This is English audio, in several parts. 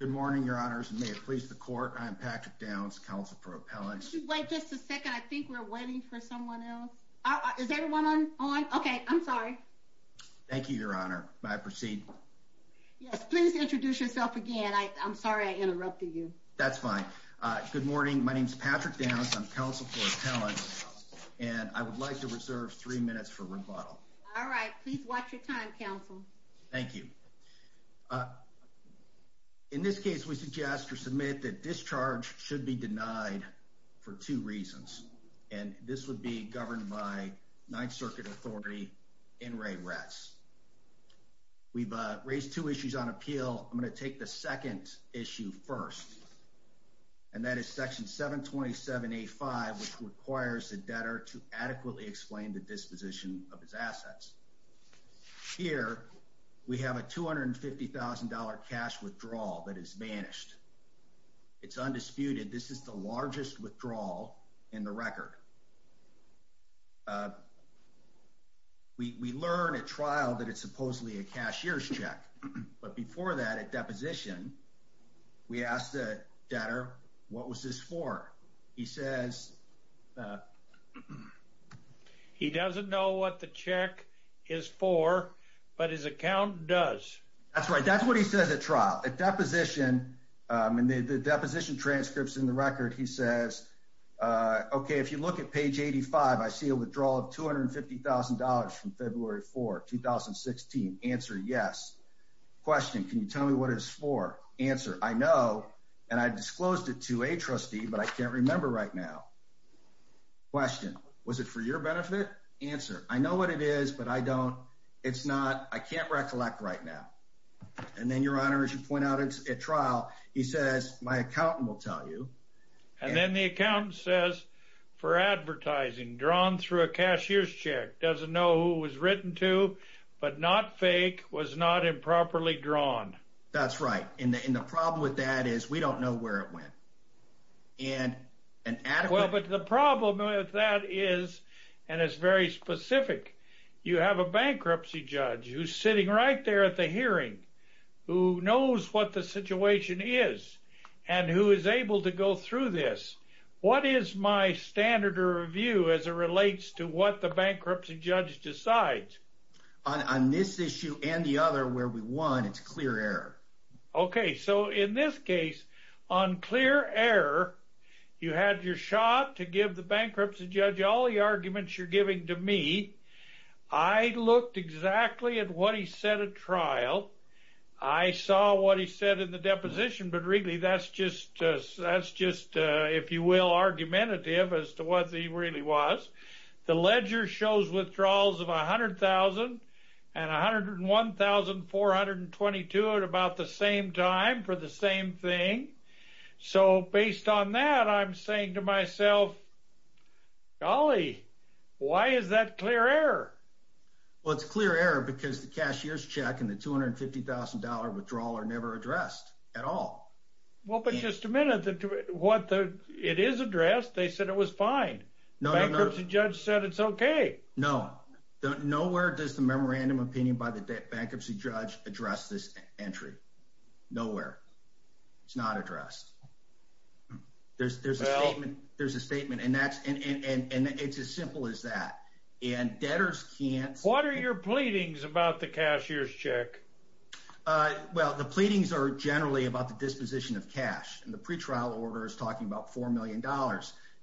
Good morning, Your Honors, and may it please the Court, I am Patrick Downs, Counsel for Appellants. Wait just a second, I think we're waiting for someone else. Is everyone on? Okay, I'm sorry. Thank you, Your Honor. May I proceed? Yes, please introduce yourself again. I'm sorry I interrupted you. That's fine. Good morning, my name is Patrick Downs, I'm Counsel for Appellants, and I would like to reserve three minutes for rebuttal. All right, please watch your time, Counsel. Thank you. In this case, we suggest or submit that discharge should be denied for two reasons, and this would be governed by Ninth Circuit Authority, N. Ray Retz. We've raised two issues on appeal. I'm going to take the second issue first, and that is Section 727.85, which requires the debtor to adequately explain the disposition of his assets. Here, we have a $250,000 cash withdrawal that is banished. It's undisputed, this is the largest withdrawal in the record. We learn at trial that it's supposedly a cashier's check, but before that, at deposition, we asked the debtor, what was this for? He says, he doesn't know what the check is for, but his account does. That's right, that's what he says at trial. At deposition, in the deposition transcripts in the record, he says, okay, if you look at page 85, I see a withdrawal of $250,000 from February 4, 2016. Answer, yes. Question, can you tell me what it's for? Answer, I know, and I disclosed it to a trustee, but I can't remember right now. Question, was it for your benefit? Answer, I know what it is, but I don't, it's not, I can't recollect right now. And then, Your Honor, as you point out at trial, he says, my accountant will tell you. And then the accountant says, for advertising, drawn through a cashier's check, doesn't know who it was written to, but not fake, was not improperly drawn. That's right, and the problem with that is, we don't know where it went. Well, but the problem with that is, and it's very specific, you have a bankruptcy judge who's sitting right there at the hearing, who knows what the situation is, and who is able to go through this. What is my standard of review as it relates to what the bankruptcy judge decides? On this issue and the other, where we won, it's clear error. Okay, so in this case, on clear error, you had your shot to give the bankruptcy judge all the arguments you're giving to me. I looked exactly at what he said at trial. I saw what he said in the deposition, but really, that's just, if you will, argumentative as to what he really was. The ledger shows withdrawals of $100,000 and $101,422 at about the same time for the same thing. So, based on that, I'm saying to myself, golly, why is that clear error? Well, it's clear error because the cashier's check and the $250,000 withdrawal are never addressed at all. Well, but just a minute, it is addressed. They said it was fine. No, no, no. Bankruptcy judge said it's okay. No, nowhere does the memorandum opinion by the bankruptcy judge address this entry. Nowhere. It's not addressed. There's a statement, and it's as simple as that. What are your pleadings about the cashier's check? Well, the pleadings are generally about the disposition of cash, and the pretrial order is talking about $4 million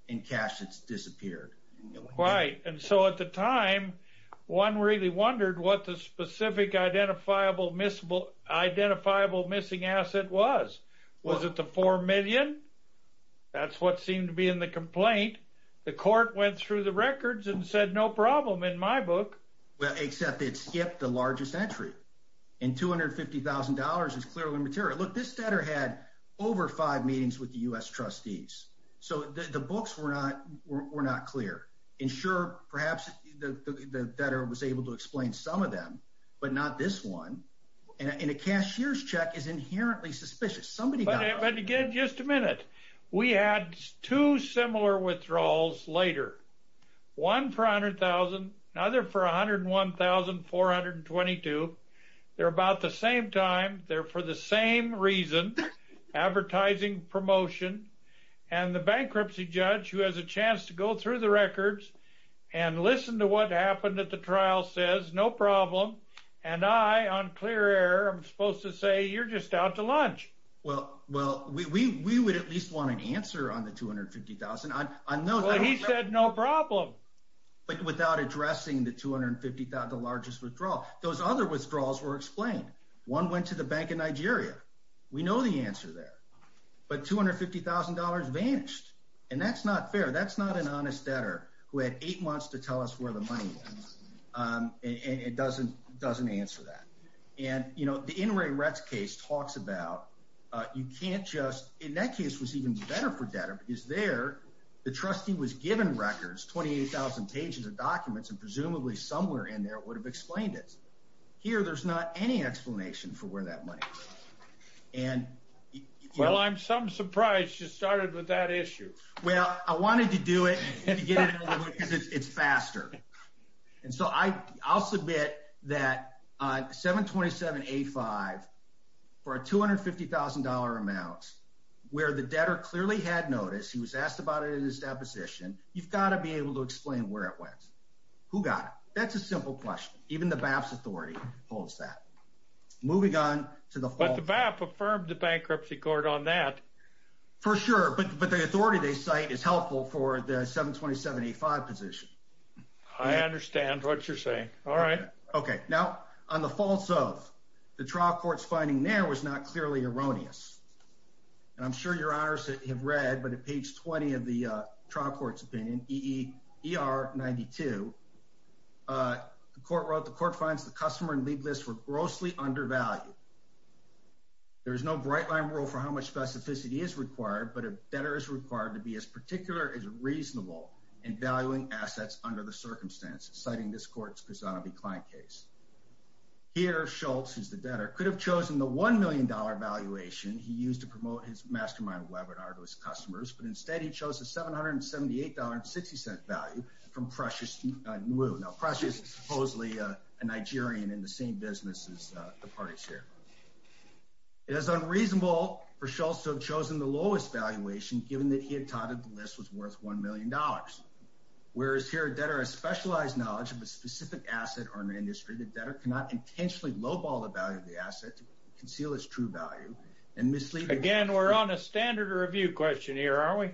in cash that's disappeared. Right, and so at the time, one really wondered what the specific identifiable missing asset was. Was it the $4 million? That's what seemed to be in the complaint. The court went through the records and said no problem in my book. Well, except it skipped the largest entry, and $250,000 is clearly material. Look, this debtor had over five meetings with the U.S. trustees, so the books were not clear. And sure, perhaps the debtor was able to explain some of them, but not this one. And a cashier's check is inherently suspicious. Somebody got it. But again, just a minute. We had two similar withdrawals later, one for $100,000, another for $101,422. They're about the same time. They're for the same reason, advertising promotion. And the bankruptcy judge, who has a chance to go through the records and listen to what happened at the trial, says no problem. And I, on clear air, am supposed to say you're just out to lunch. Well, we would at least want an answer on the $250,000. Well, he said no problem. But without addressing the $250,000, the largest withdrawal. Those other withdrawals were explained. One went to the Bank of Nigeria. We know the answer there. But $250,000 vanished. And that's not fair. That's not an honest debtor who had eight months to tell us where the money was. It doesn't answer that. And, you know, the Inouye Retz case talks about you can't just—in that case, it was even better for debtor because there, the trustee was given records, 28,000 pages of documents, and presumably somewhere in there would have explained it. Here, there's not any explanation for where that money is. Well, I'm some surprised you started with that issue. Well, I wanted to do it to get it over with because it's faster. And so I'll submit that 727A5, for a $250,000 amount, where the debtor clearly had notice, he was asked about it in his deposition, you've got to be able to explain where it went. Who got it? That's a simple question. Even the BAP's authority holds that. Moving on to the— But the BAP affirmed the bankruptcy court on that. For sure. But the authority they cite is helpful for the 727A5 position. I understand what you're saying. All right. Okay. Now, on the false oath, the trial court's finding there was not clearly erroneous. And I'm sure your honors have read, but at page 20 of the trial court's opinion, EER 92, the court wrote, the court finds the customer and lead list were grossly undervalued. There is no bright-line rule for how much specificity is required, but a debtor is required to be as particular as reasonable in valuing assets under the circumstances, citing this court's Cusanovi-Klein case. Here, Schultz, who's the debtor, could have chosen the $1 million valuation he used to promote his mastermind webinar to his customers, but instead he chose a $778.60 value from Precious New. Now, Precious is supposedly a Nigerian in the same business as the parties here. It is unreasonable for Schultz to have chosen the lowest valuation, given that he had touted the list was worth $1 million. Whereas here a debtor has specialized knowledge of a specific asset or an industry, the debtor cannot intentionally lowball the value of the asset to conceal its true value. Again, we're on a standard review question here, aren't we?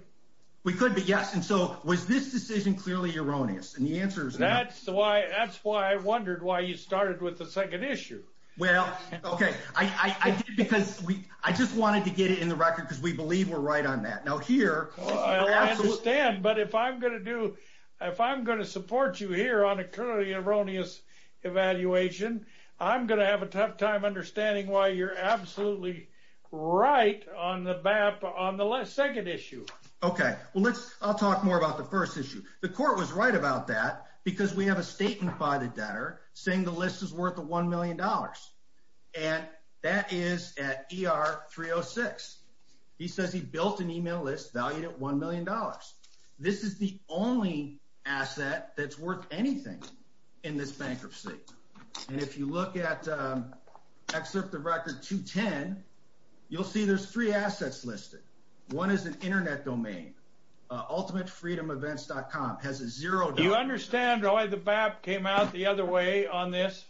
We could be, yes. And so was this decision clearly erroneous? And the answer is no. That's why I wondered why you started with the second issue. Well, okay. I did because I just wanted to get it in the record because we believe we're right on that. Now, here— I understand, but if I'm going to support you here on a clearly erroneous evaluation, I'm going to have a tough time understanding why you're absolutely right on the second issue. Okay. Well, I'll talk more about the first issue. The court was right about that because we have a statement by the debtor saying the list is worth $1 million. And that is at ER 306. He says he built an email list valued at $1 million. This is the only asset that's worth anything in this bankruptcy. And if you look at Excerpt of Record 210, you'll see there's three assets listed. One is an Internet domain. Ultimatefreedomevents.com has a zero— Do you understand why the BAP came out the other way on this?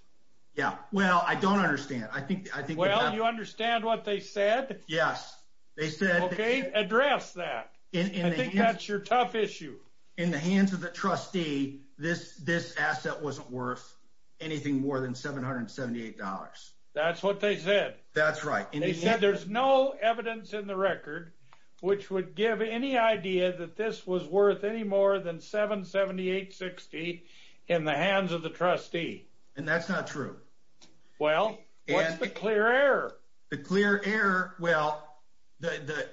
Yeah. Well, I don't understand. I think— Well, you understand what they said? Yes. They said— Okay, address that. I think that's your tough issue. In the hands of the trustee, this asset wasn't worth anything more than $778. That's what they said. That's right. They said there's no evidence in the record which would give any idea that this was worth any more than $778.60 in the hands of the trustee. And that's not true. Well, what's the clear error? The clear error—well, the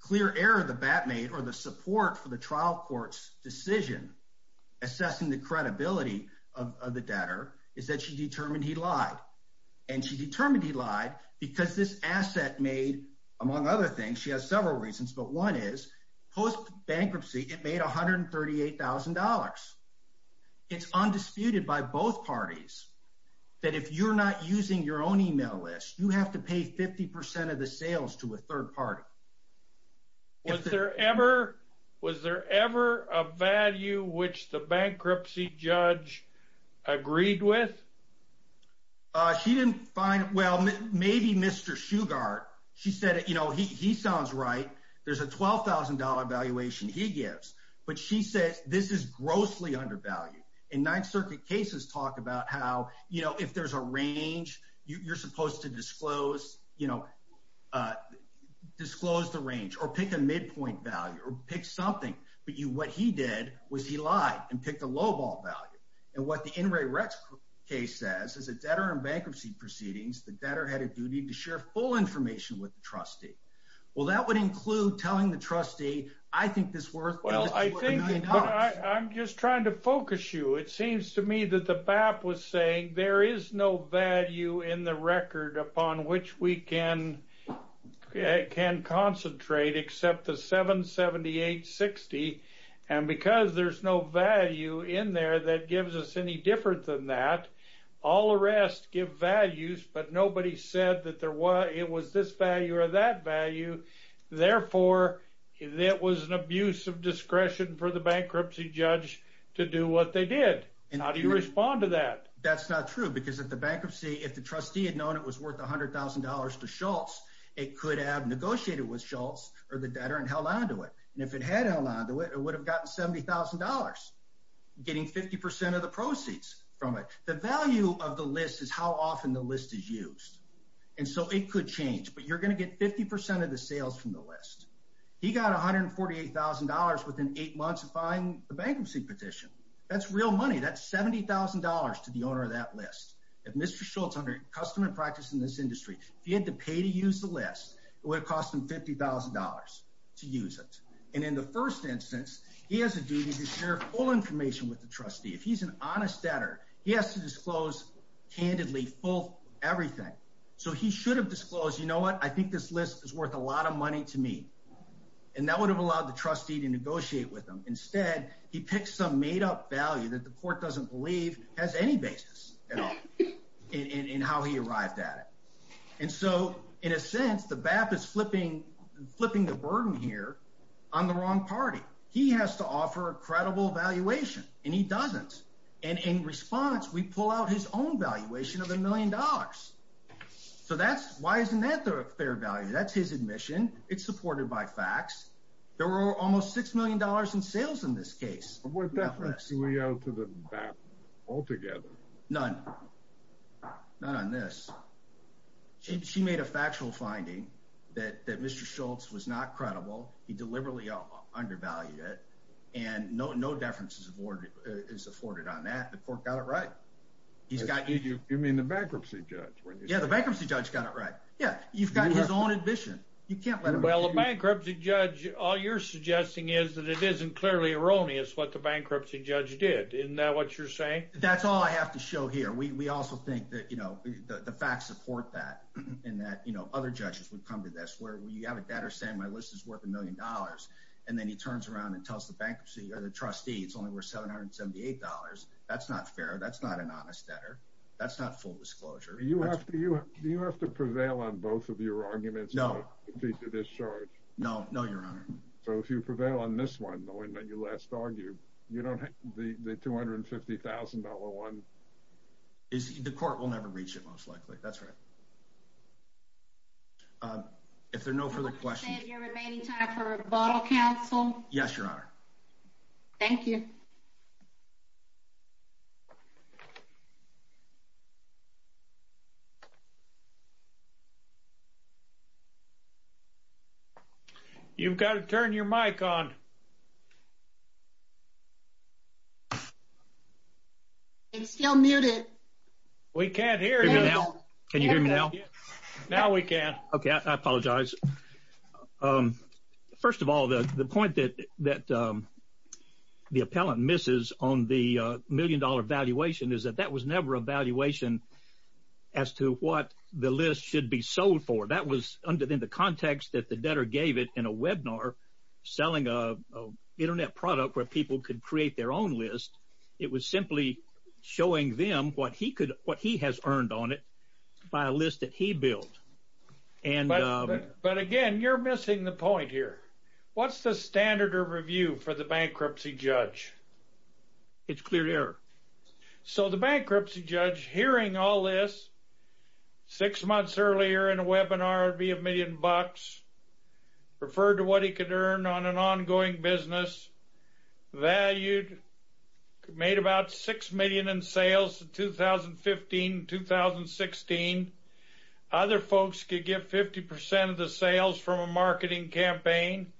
clear error the BAP made or the support for the trial court's decision assessing the credibility of the debtor is that she determined he lied. And she determined he lied because this asset made, among other things—she has several reasons, but one is post-bankruptcy it made $138,000. It's undisputed by both parties that if you're not using your own email list, you have to pay 50% of the sales to a third party. Was there ever a value which the bankruptcy judge agreed with? She didn't find—well, maybe Mr. Shugart. She said, you know, he sounds right. There's a $12,000 valuation he gives, but she says this is grossly undervalued. And Ninth Circuit cases talk about how, you know, if there's a range, you're supposed to disclose the range or pick a midpoint value or pick something. But what he did was he lied and picked a low-ball value. And what the Inouye Retz case says is a debtor in bankruptcy proceedings, the debtor had a duty to share full information with the trustee. Well, that would include telling the trustee, I think this is worth a million dollars. I'm just trying to focus you. It seems to me that the BAP was saying there is no value in the record upon which we can concentrate except the $778.60. And because there's no value in there that gives us any different than that, all arrests give values, but nobody said that it was this value or that value. Therefore, that was an abuse of discretion for the bankruptcy judge to do what they did. How do you respond to that? That's not true because if the bankruptcy, if the trustee had known it was worth $100,000 to Schultz, it could have negotiated with Schultz or the debtor and held on to it. And if it had held on to it, it would have gotten $70,000, getting 50% of the proceeds from it. The value of the list is how often the list is used. And so it could change, but you're going to get 50% of the sales from the list. He got $148,000 within eight months of filing the bankruptcy petition. That's real money. That's $70,000 to the owner of that list. If Mr. Schultz, under custom and practice in this industry, if he had to pay to use the list, it would have cost him $50,000 to use it. And in the first instance, he has a duty to share full information with the trustee. If he's an honest debtor, he has to disclose candidly full everything. So he should have disclosed, you know what, I think this list is worth a lot of money to me. And that would have allowed the trustee to negotiate with him. Instead, he picked some made-up value that the court doesn't believe has any basis at all in how he arrived at it. And so in a sense, the BAP is flipping the burden here on the wrong party. He has to offer a credible valuation, and he doesn't. And in response, we pull out his own valuation of $1 million. So why isn't that their value? That's his admission. It's supported by facts. There were almost $6 million in sales in this case. What difference do we owe to the BAP altogether? None. None on this. She made a factual finding that Mr. Schultz was not credible. He deliberately undervalued it. And no deference is afforded on that. The court got it right. You mean the bankruptcy judge? Yeah, the bankruptcy judge got it right. Yeah, you've got his own admission. Well, the bankruptcy judge, all you're suggesting is that it isn't clearly erroneous what the bankruptcy judge did. Isn't that what you're saying? That's all I have to show here. We also think that the facts support that, and that other judges would come to this where you have a debtor saying my list is worth $1 million, and then he turns around and tells the trustee it's only worth $778. That's not fair. That's not an honest debtor. That's not full disclosure. Do you have to prevail on both of your arguments? No. No, Your Honor. So if you prevail on this one, knowing that you last argued, you don't have the $250,000 one. The court will never reach it, most likely. That's right. If there are no further questions. Do you have your remaining time for rebuttal, counsel? Yes, Your Honor. Thank you. Thank you. You've got to turn your mic on. It's still muted. We can't hear you. Can you hear me now? Now we can. Okay. I apologize. First of all, the point that the appellant misses on the million-dollar valuation is that that was never a valuation as to what the list should be sold for. That was in the context that the debtor gave it in a webinar selling an Internet product where people could create their own list. It was simply showing them what he has earned on it by a list that he built. But again, you're missing the point here. What's the standard of review for the bankruptcy judge? It's clear to hear. So the bankruptcy judge, hearing all this, six months earlier in a webinar, it would be a million bucks, referred to what he could earn on an ongoing business, valued, made about $6 million in sales in 2015 and 2016. Other folks could get 50% of the sales from a marketing campaign.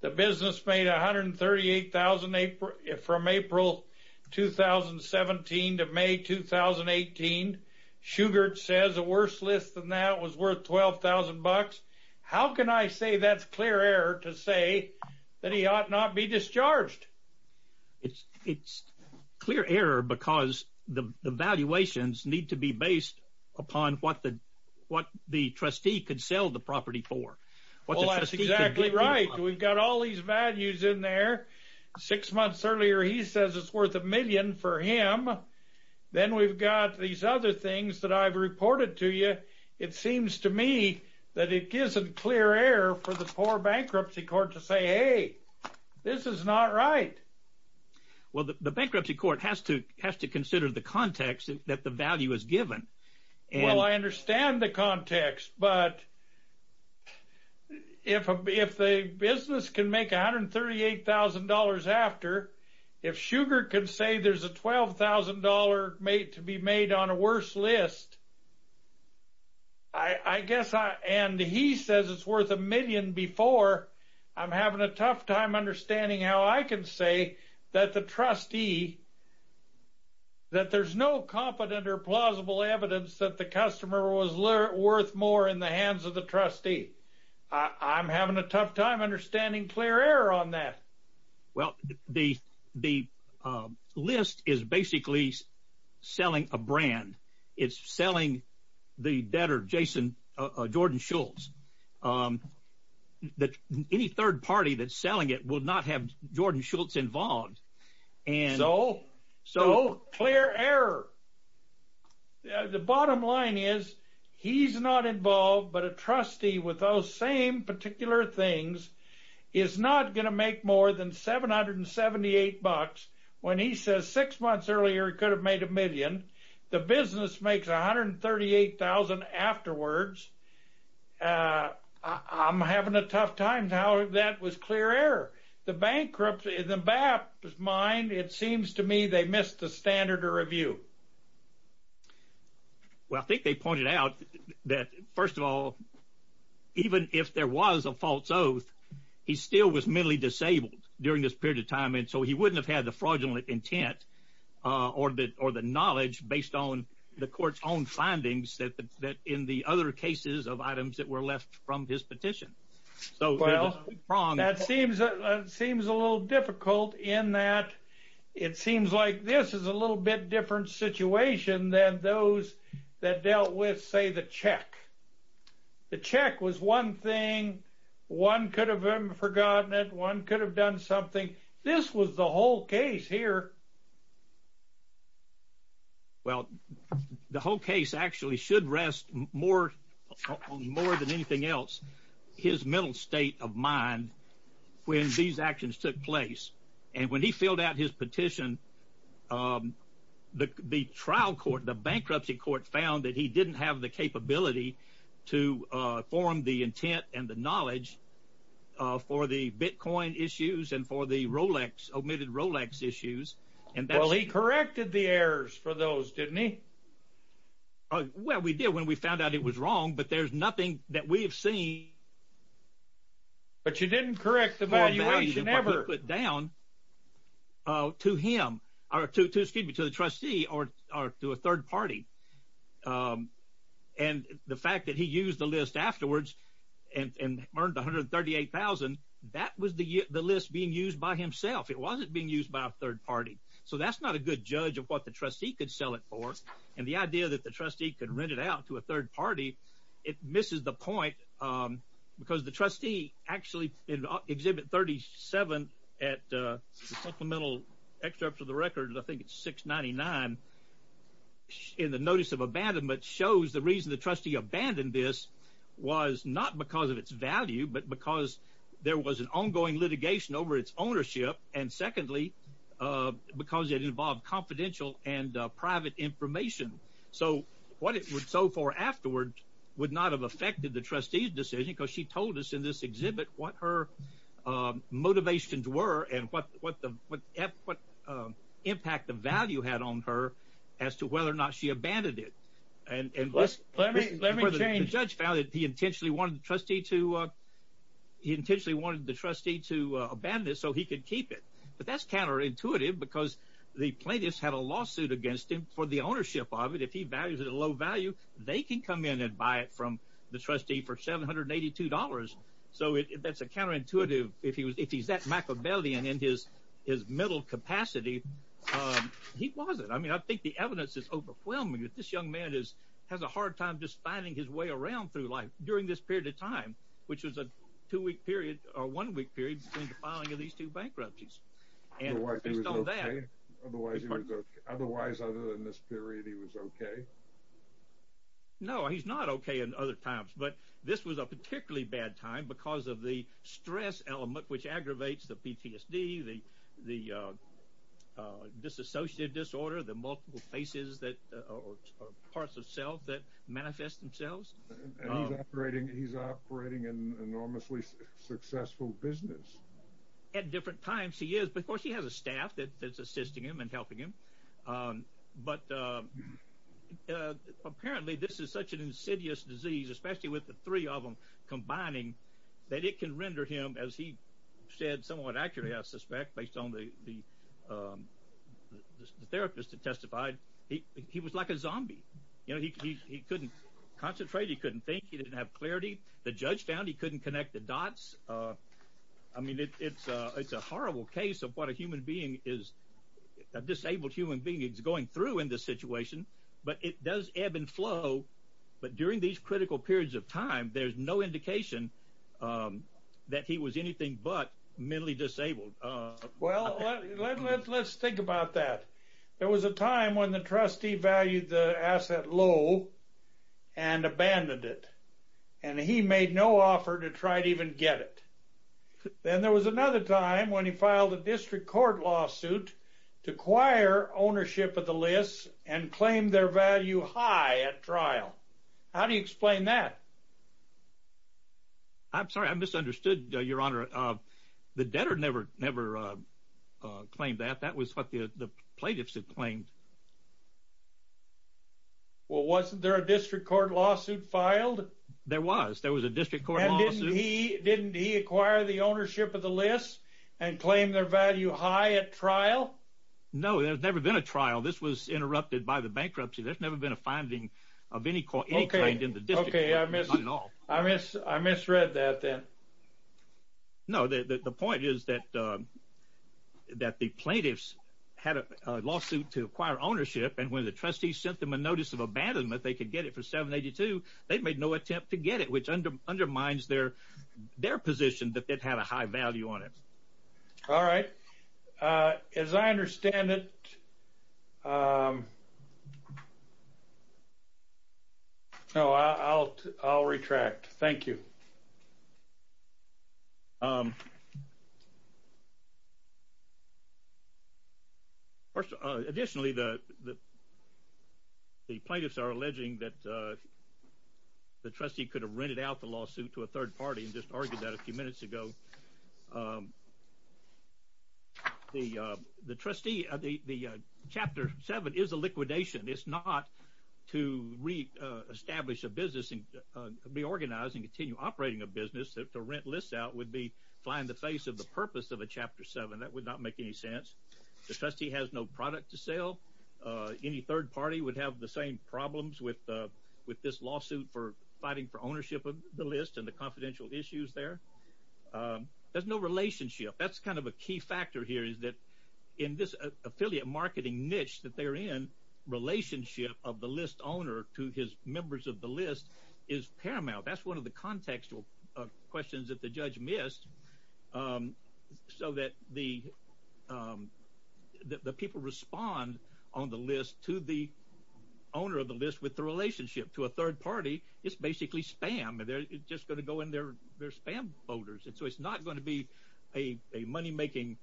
The business made $138,000 from April 2017 to May 2018. Shugart says a worse list than that was worth $12,000. How can I say that's clear error to say that he ought not be discharged? It's clear error because the valuations need to be based upon what the trustee could sell the property for. Well, that's exactly right. We've got all these values in there. Six months earlier, he says it's worth a million for him. Then we've got these other things that I've reported to you. It seems to me that it gives a clear error for the poor bankruptcy court to say, hey, this is not right. Well, the bankruptcy court has to consider the context that the value is given. Well, I understand the context. But if the business can make $138,000 after, if Shugart can say there's a $12,000 to be made on a worse list, and he says it's worth a million before, I'm having a tough time understanding how I can say that the trustee, that there's no confident or plausible evidence that the customer was worth more in the hands of the trustee. I'm having a tough time understanding clear error on that. Well, the list is basically selling a brand. It's selling the debtor, Jason, Jordan Schultz. Any third party that's selling it will not have Jordan Schultz involved. So? So, clear error. The bottom line is he's not involved, but a trustee with those same particular things is not going to make more than $778. When he says six months earlier he could have made a million, the business makes $138,000 afterwards, I'm having a tough time how that was clear error. The bankruptcy, in the BAP's mind, it seems to me they missed the standard of review. Well, I think they pointed out that, first of all, even if there was a false oath, he still was mentally disabled during this period of time, and so he wouldn't have had the fraudulent intent or the knowledge based on the court's own findings that in the other cases of items that were left from his petition. Well, that seems a little difficult in that it seems like this is a little bit different situation than those that dealt with, say, the check. The check was one thing, one could have forgotten it, one could have done something. This was the whole case here. Well, the whole case actually should rest more than anything else, his mental state of mind when these actions took place. And when he filled out his petition, the trial court, the bankruptcy court found that he didn't have the capability to form the intent and the knowledge for the Bitcoin issues and for the Rolex, omitted Rolex issues. Well, he corrected the errors for those, didn't he? Well, we did when we found out it was wrong, but there's nothing that we have seen. But you didn't correct the valuation ever. To him, excuse me, to the trustee or to a third party. And the fact that he used the list afterwards and earned $138,000, that was the list being used by himself. It wasn't being used by a third party. So that's not a good judge of what the trustee could sell it for. And the idea that the trustee could rent it out to a third party, it misses the point because the trustee actually exhibit 37 at supplemental excerpts of the record. I think it's 699 in the notice of abandonment shows the reason the trustee abandoned this was not because of its value, but because there was an ongoing litigation over its ownership. And secondly, because it involved confidential and private information. So what it would sell for afterwards would not have affected the trustee's decision because she told us in this exhibit what her motivations were and what impact the value had on her as to whether or not she abandoned it. And the judge found that he intentionally wanted the trustee to abandon it so he could keep it. But that's counterintuitive because the plaintiffs had a lawsuit against him for the ownership of it. If he values it at a low value, they can come in and buy it from the trustee for $782. So that's a counterintuitive. If he's that Machiavellian in his middle capacity, he wasn't. I mean, I think the evidence is overwhelming that this young man has a hard time just finding his way around through life during this period of time, which was a two-week period or one-week period between the filing of these two bankruptcies. Otherwise, other than this period, he was okay? No, he's not okay in other times. But this was a particularly bad time because of the stress element, which aggravates the PTSD, the disassociative disorder, the multiple faces or parts of self that manifest themselves. And he's operating an enormously successful business. At different times, he is. But, of course, he has a staff that's assisting him and helping him. But apparently this is such an insidious disease, especially with the three of them combining, that it can render him, as he said somewhat accurately, I suspect, based on the therapist that testified, he was like a zombie. He couldn't concentrate. He couldn't think. He didn't have clarity. The judge found he couldn't connect the dots. I mean, it's a horrible case of what a disabled human being is going through in this situation. But it does ebb and flow. But during these critical periods of time, there's no indication that he was anything but mentally disabled. Well, let's think about that. There was a time when the trustee valued the asset low and abandoned it. And he made no offer to try to even get it. Then there was another time when he filed a district court lawsuit to acquire ownership of the lists and claim their value high at trial. How do you explain that? I'm sorry. I misunderstood, Your Honor. The debtor never claimed that. That was what the plaintiffs had claimed. Well, wasn't there a district court lawsuit filed? There was. There was a district court lawsuit. And didn't he acquire the ownership of the lists and claim their value high at trial? No, there's never been a trial. This was interrupted by the bankruptcy. There's never been a finding of any claim in the district court. Okay, I misread that then. No, the point is that the plaintiffs had a lawsuit to acquire ownership. And when the trustees sent them a notice of abandonment, they could get it for $782,000. They made no attempt to get it, which undermines their position that it had a high value on it. All right. As I understand it, I'll retract. Thank you. Additionally, the plaintiffs are alleging that the trustee could have rented out the lawsuit to a third party and just argued that a few minutes ago. The chapter 7 is a liquidation. It's not to reestablish a business and reorganize and continue operating a business. To rent lists out would be flying in the face of the purpose of a chapter 7. That would not make any sense. The trustee has no product to sell. Any third party would have the same problems with this lawsuit for fighting for ownership of the list and the confidential issues there. There's no relationship. That's kind of a key factor here is that in this affiliate marketing niche that they're in, relationship of the list owner to his members of the list is paramount. That's one of the contextual questions that the judge missed so that the people respond on the list to the owner of the list with the relationship to a third party. It's basically spam. It's just going to go in their spam folders. It's not going to be a money-making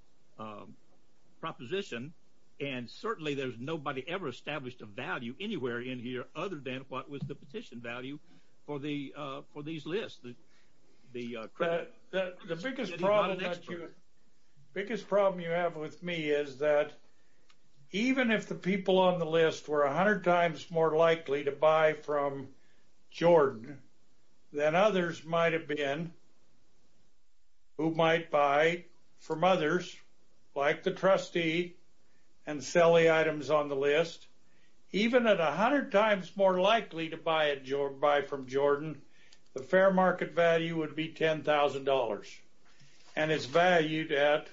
proposition, and certainly there's nobody ever established a value anywhere in here other than what was the petition value for these lists. The biggest problem you have with me is that even if the people on the list were 100 times more likely to buy from Jordan than others might have been who might buy from others like the trustee and sell the items on the list, even at 100 times more likely to buy from Jordan, the fair market value would be $10,000, and it's valued at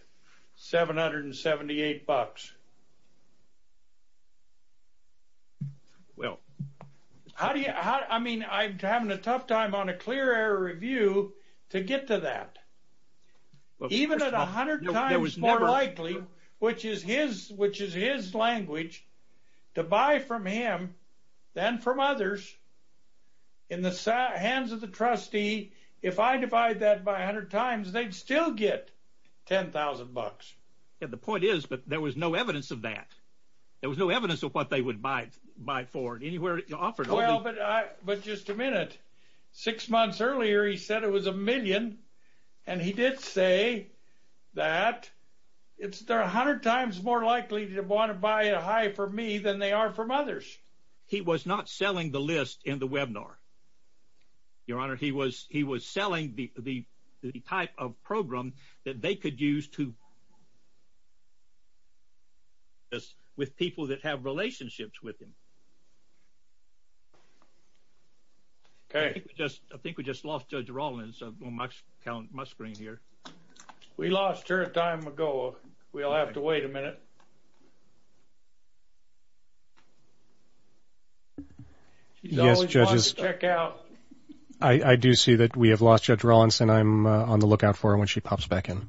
$778. I mean, I'm having a tough time on a clear air review to get to that. Even at 100 times more likely, which is his language, to buy from him than from others, in the hands of the trustee, if I divide that by 100 times, they'd still get $10,000. Yeah, the point is, but there was no evidence of that. There was no evidence of what they would buy for. Well, but just a minute. Six months earlier he said it was a million, and he did say that they're 100 times more likely to want to buy a high from me than they are from others. He was not selling the list in the webinar, Your Honor. He was selling the type of program that they could use to with people that have relationships with him. Okay. I think we just lost Judge Rollins on my screen here. We lost her a time ago. We'll have to wait a minute. She's always wanting to check out. I do see that we have lost Judge Rollins, and I'm on the lookout for her when she pops back in.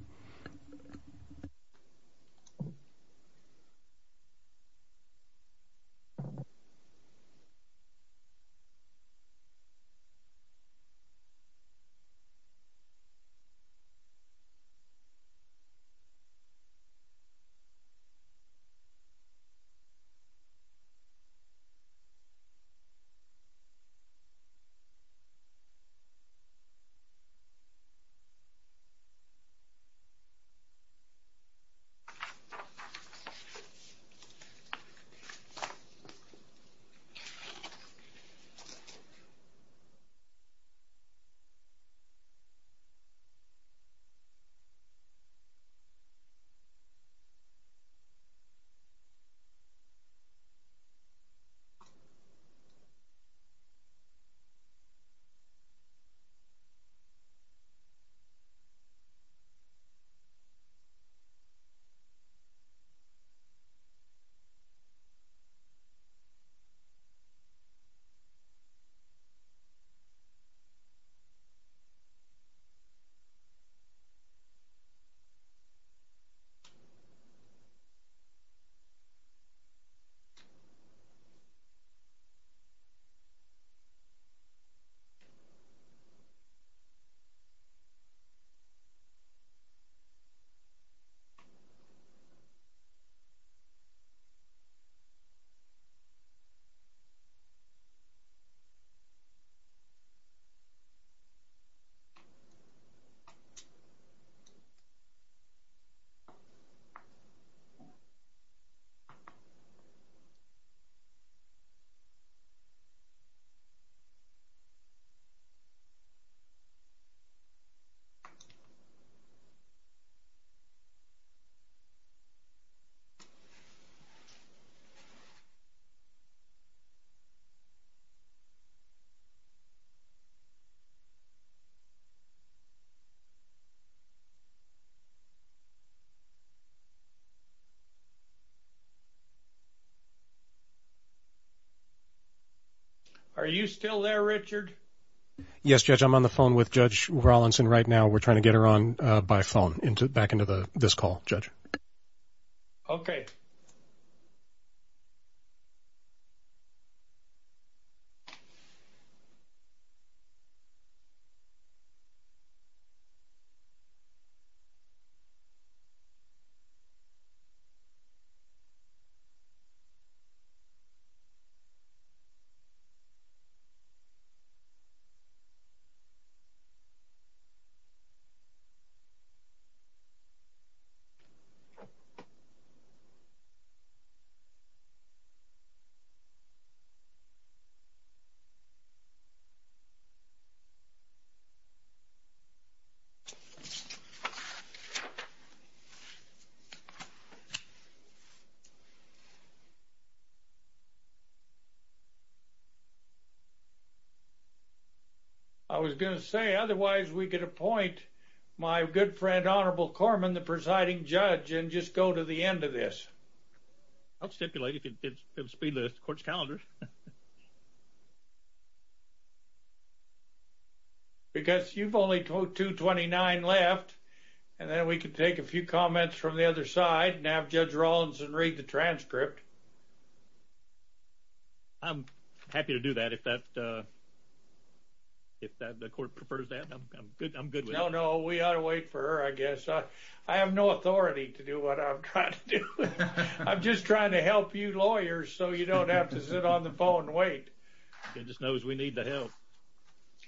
Okay. Okay. Okay. Okay. Okay. Are you still there, Richard? Yes, Judge. I'm on the phone with Judge Rollins, and right now we're trying to get her on by phone back into this call, Judge. Okay. Okay. You got it. Okay. I'll get back to you. Okay. I was going to say, otherwise, we could appoint my good friend honorable Corman, the presiding judge and just go to the end of this. I'll stipulate if it will speed the court's calendar. Because you've only 229 left, and then we can take a few comments from the other side and have Judge Rollins read the transcript. I'm happy to do that if the court prefers that. I'm good with it. No, no, we ought to wait for her, I guess. I have no authority to do what I'm trying to do. I'm just trying to help you lawyers so you don't have to sit on the phone and wait. He just knows we need the help.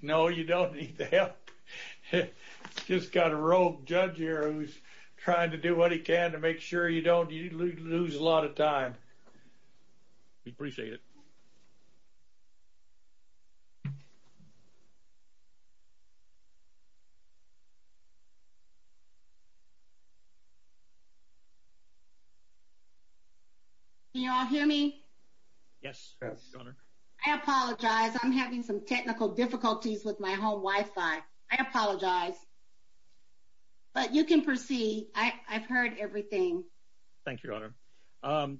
No, you don't need the help. Just got a rogue judge here who's trying to do what he can to make sure you don't lose a lot of time. We appreciate it. Can you all hear me? Yes, Your Honor. I apologize. I'm having some technical difficulties with my home Wi-Fi. I apologize. But you can proceed. I've heard everything. Thank you, Your Honor.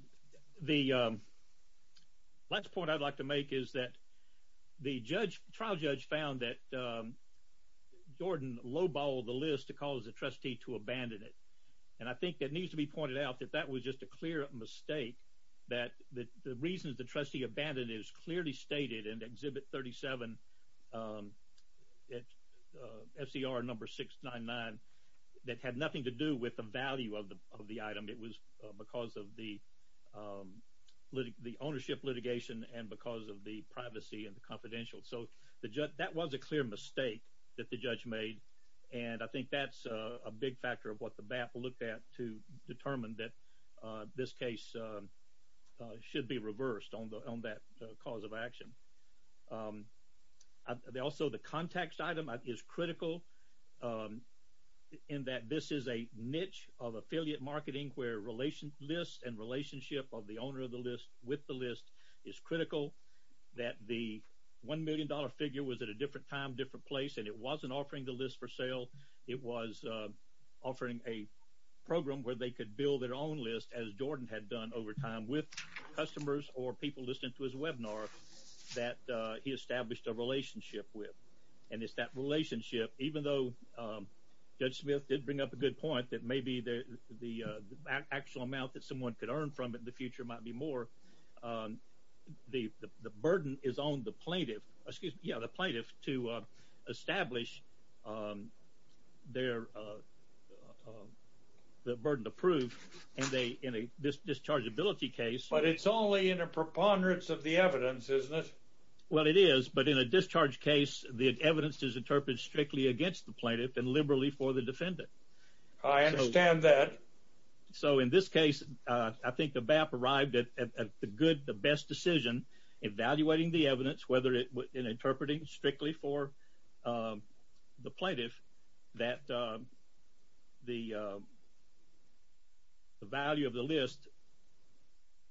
The last point I'd like to make is that the trial judge found that Jordan low-balled the list to cause the trustee to abandon it. And I think that needs to be pointed out, that that was just a clear mistake, that the reasons the trustee abandoned it is clearly stated in Exhibit 37, FCR number 699, that had nothing to do with the value of the item. It was because of the ownership litigation and because of the privacy and the confidential. So that was a clear mistake that the judge made, and I think that's a big factor of what the BAP looked at to determine that this case should be reversed on that cause of action. Also, the context item is critical in that this is a niche of affiliate marketing where lists and relationship of the owner of the list with the list is critical, that the $1 million figure was at a different time, a different place, and it wasn't offering the list for sale. It was offering a program where they could build their own list, as Jordan had done over time with customers or people listening to his webinar that he established a relationship with. And it's that relationship, even though Judge Smith did bring up a good point that maybe the actual amount that someone could earn from it in the future might be more, the burden is on the plaintiff, excuse me, the plaintiff to establish the burden approved in a dischargeability case. But it's only in a preponderance of the evidence, isn't it? Well, it is, but in a discharge case, the evidence is interpreted strictly against the plaintiff and liberally for the defendant. I understand that. So in this case, I think the BAP arrived at the good, the best decision evaluating the evidence, whether it was in interpreting strictly for the plaintiff that the value of the list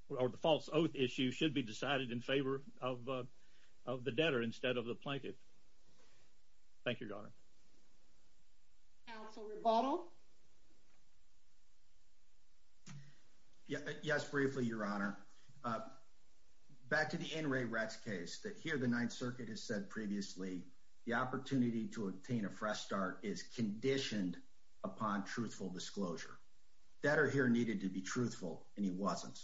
or the false oath issue should be decided in favor of the debtor Thank you, Your Honor. Counsel rebuttal. Yes, briefly, Your Honor. Back to the NRA Rets case that here, the ninth circuit has said previously, the opportunity to obtain a fresh start is conditioned upon truthful disclosure that are here needed to be truthful. And he wasn't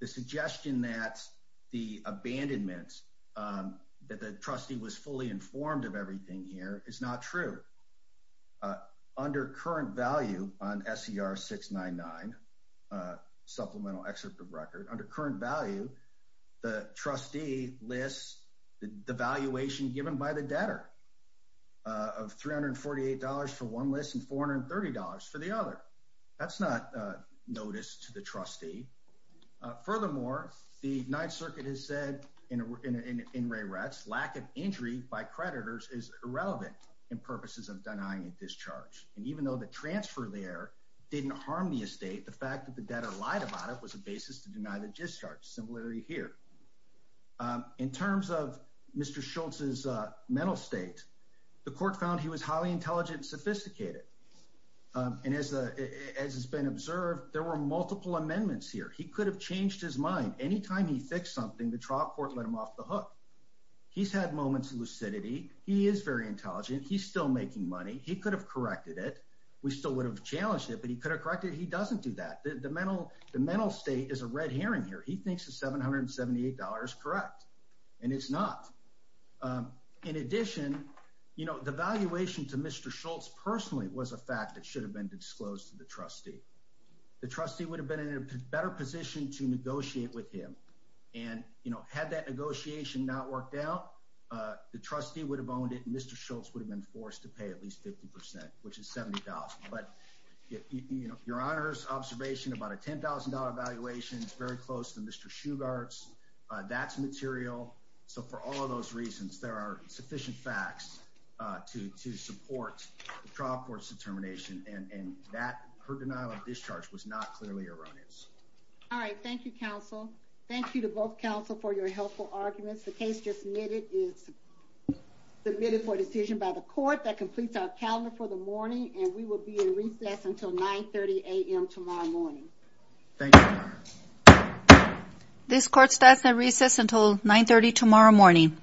the suggestion that the abandonments that the trustee was fully informed of everything here is not true. Under current value on SCR 699 supplemental excerpt of record under current value, the trustee lists the valuation given by the debtor of $348 for one list and $430 for the other. That's not noticed to the trustee. Furthermore, the ninth circuit has said in NRA Rets, lack of injury by creditors is irrelevant in purposes of denying a discharge. And even though the transfer there didn't harm the estate, the fact that the debtor lied about it was a basis to deny the discharge similarity here. In terms of Mr. Schultz's mental state, the court found he was highly intelligent, sophisticated. And as, as has been observed, there were multiple amendments here. He could have changed his mind. Anytime he fixed something, the trial court let him off the hook. He's had moments of lucidity. He is very intelligent. He's still making money. He could have corrected it. We still would have challenged it, but he could have corrected. He doesn't do that. The mental, the mental state is a red herring here. He thinks the $778. Correct. And it's not. In addition, you know, the valuation to Mr. Schultz personally was a fact that should have been disclosed to the trustee. The trustee would have been in a better position to negotiate with him. And, you know, had that negotiation not worked out, the trustee would have owned it. And Mr. Schultz would have been forced to pay at least 50%, which is $70, but you know, your honors observation about a $10,000 evaluation. It's very close to Mr. Shoe guards. That's material. So for all of those reasons, there are sufficient facts to, to support the trial court's determination. And, and that her denial of discharge was not clearly erroneous. All right. Thank you. Counsel. Thank you to both counsel for your helpful arguments. The case just needed is. The minute for decision by the court that completes our calendar for the morning. And we will be in recess until 9 30 AM tomorrow morning. Thank you. This court starts at recess until nine 30, tomorrow morning.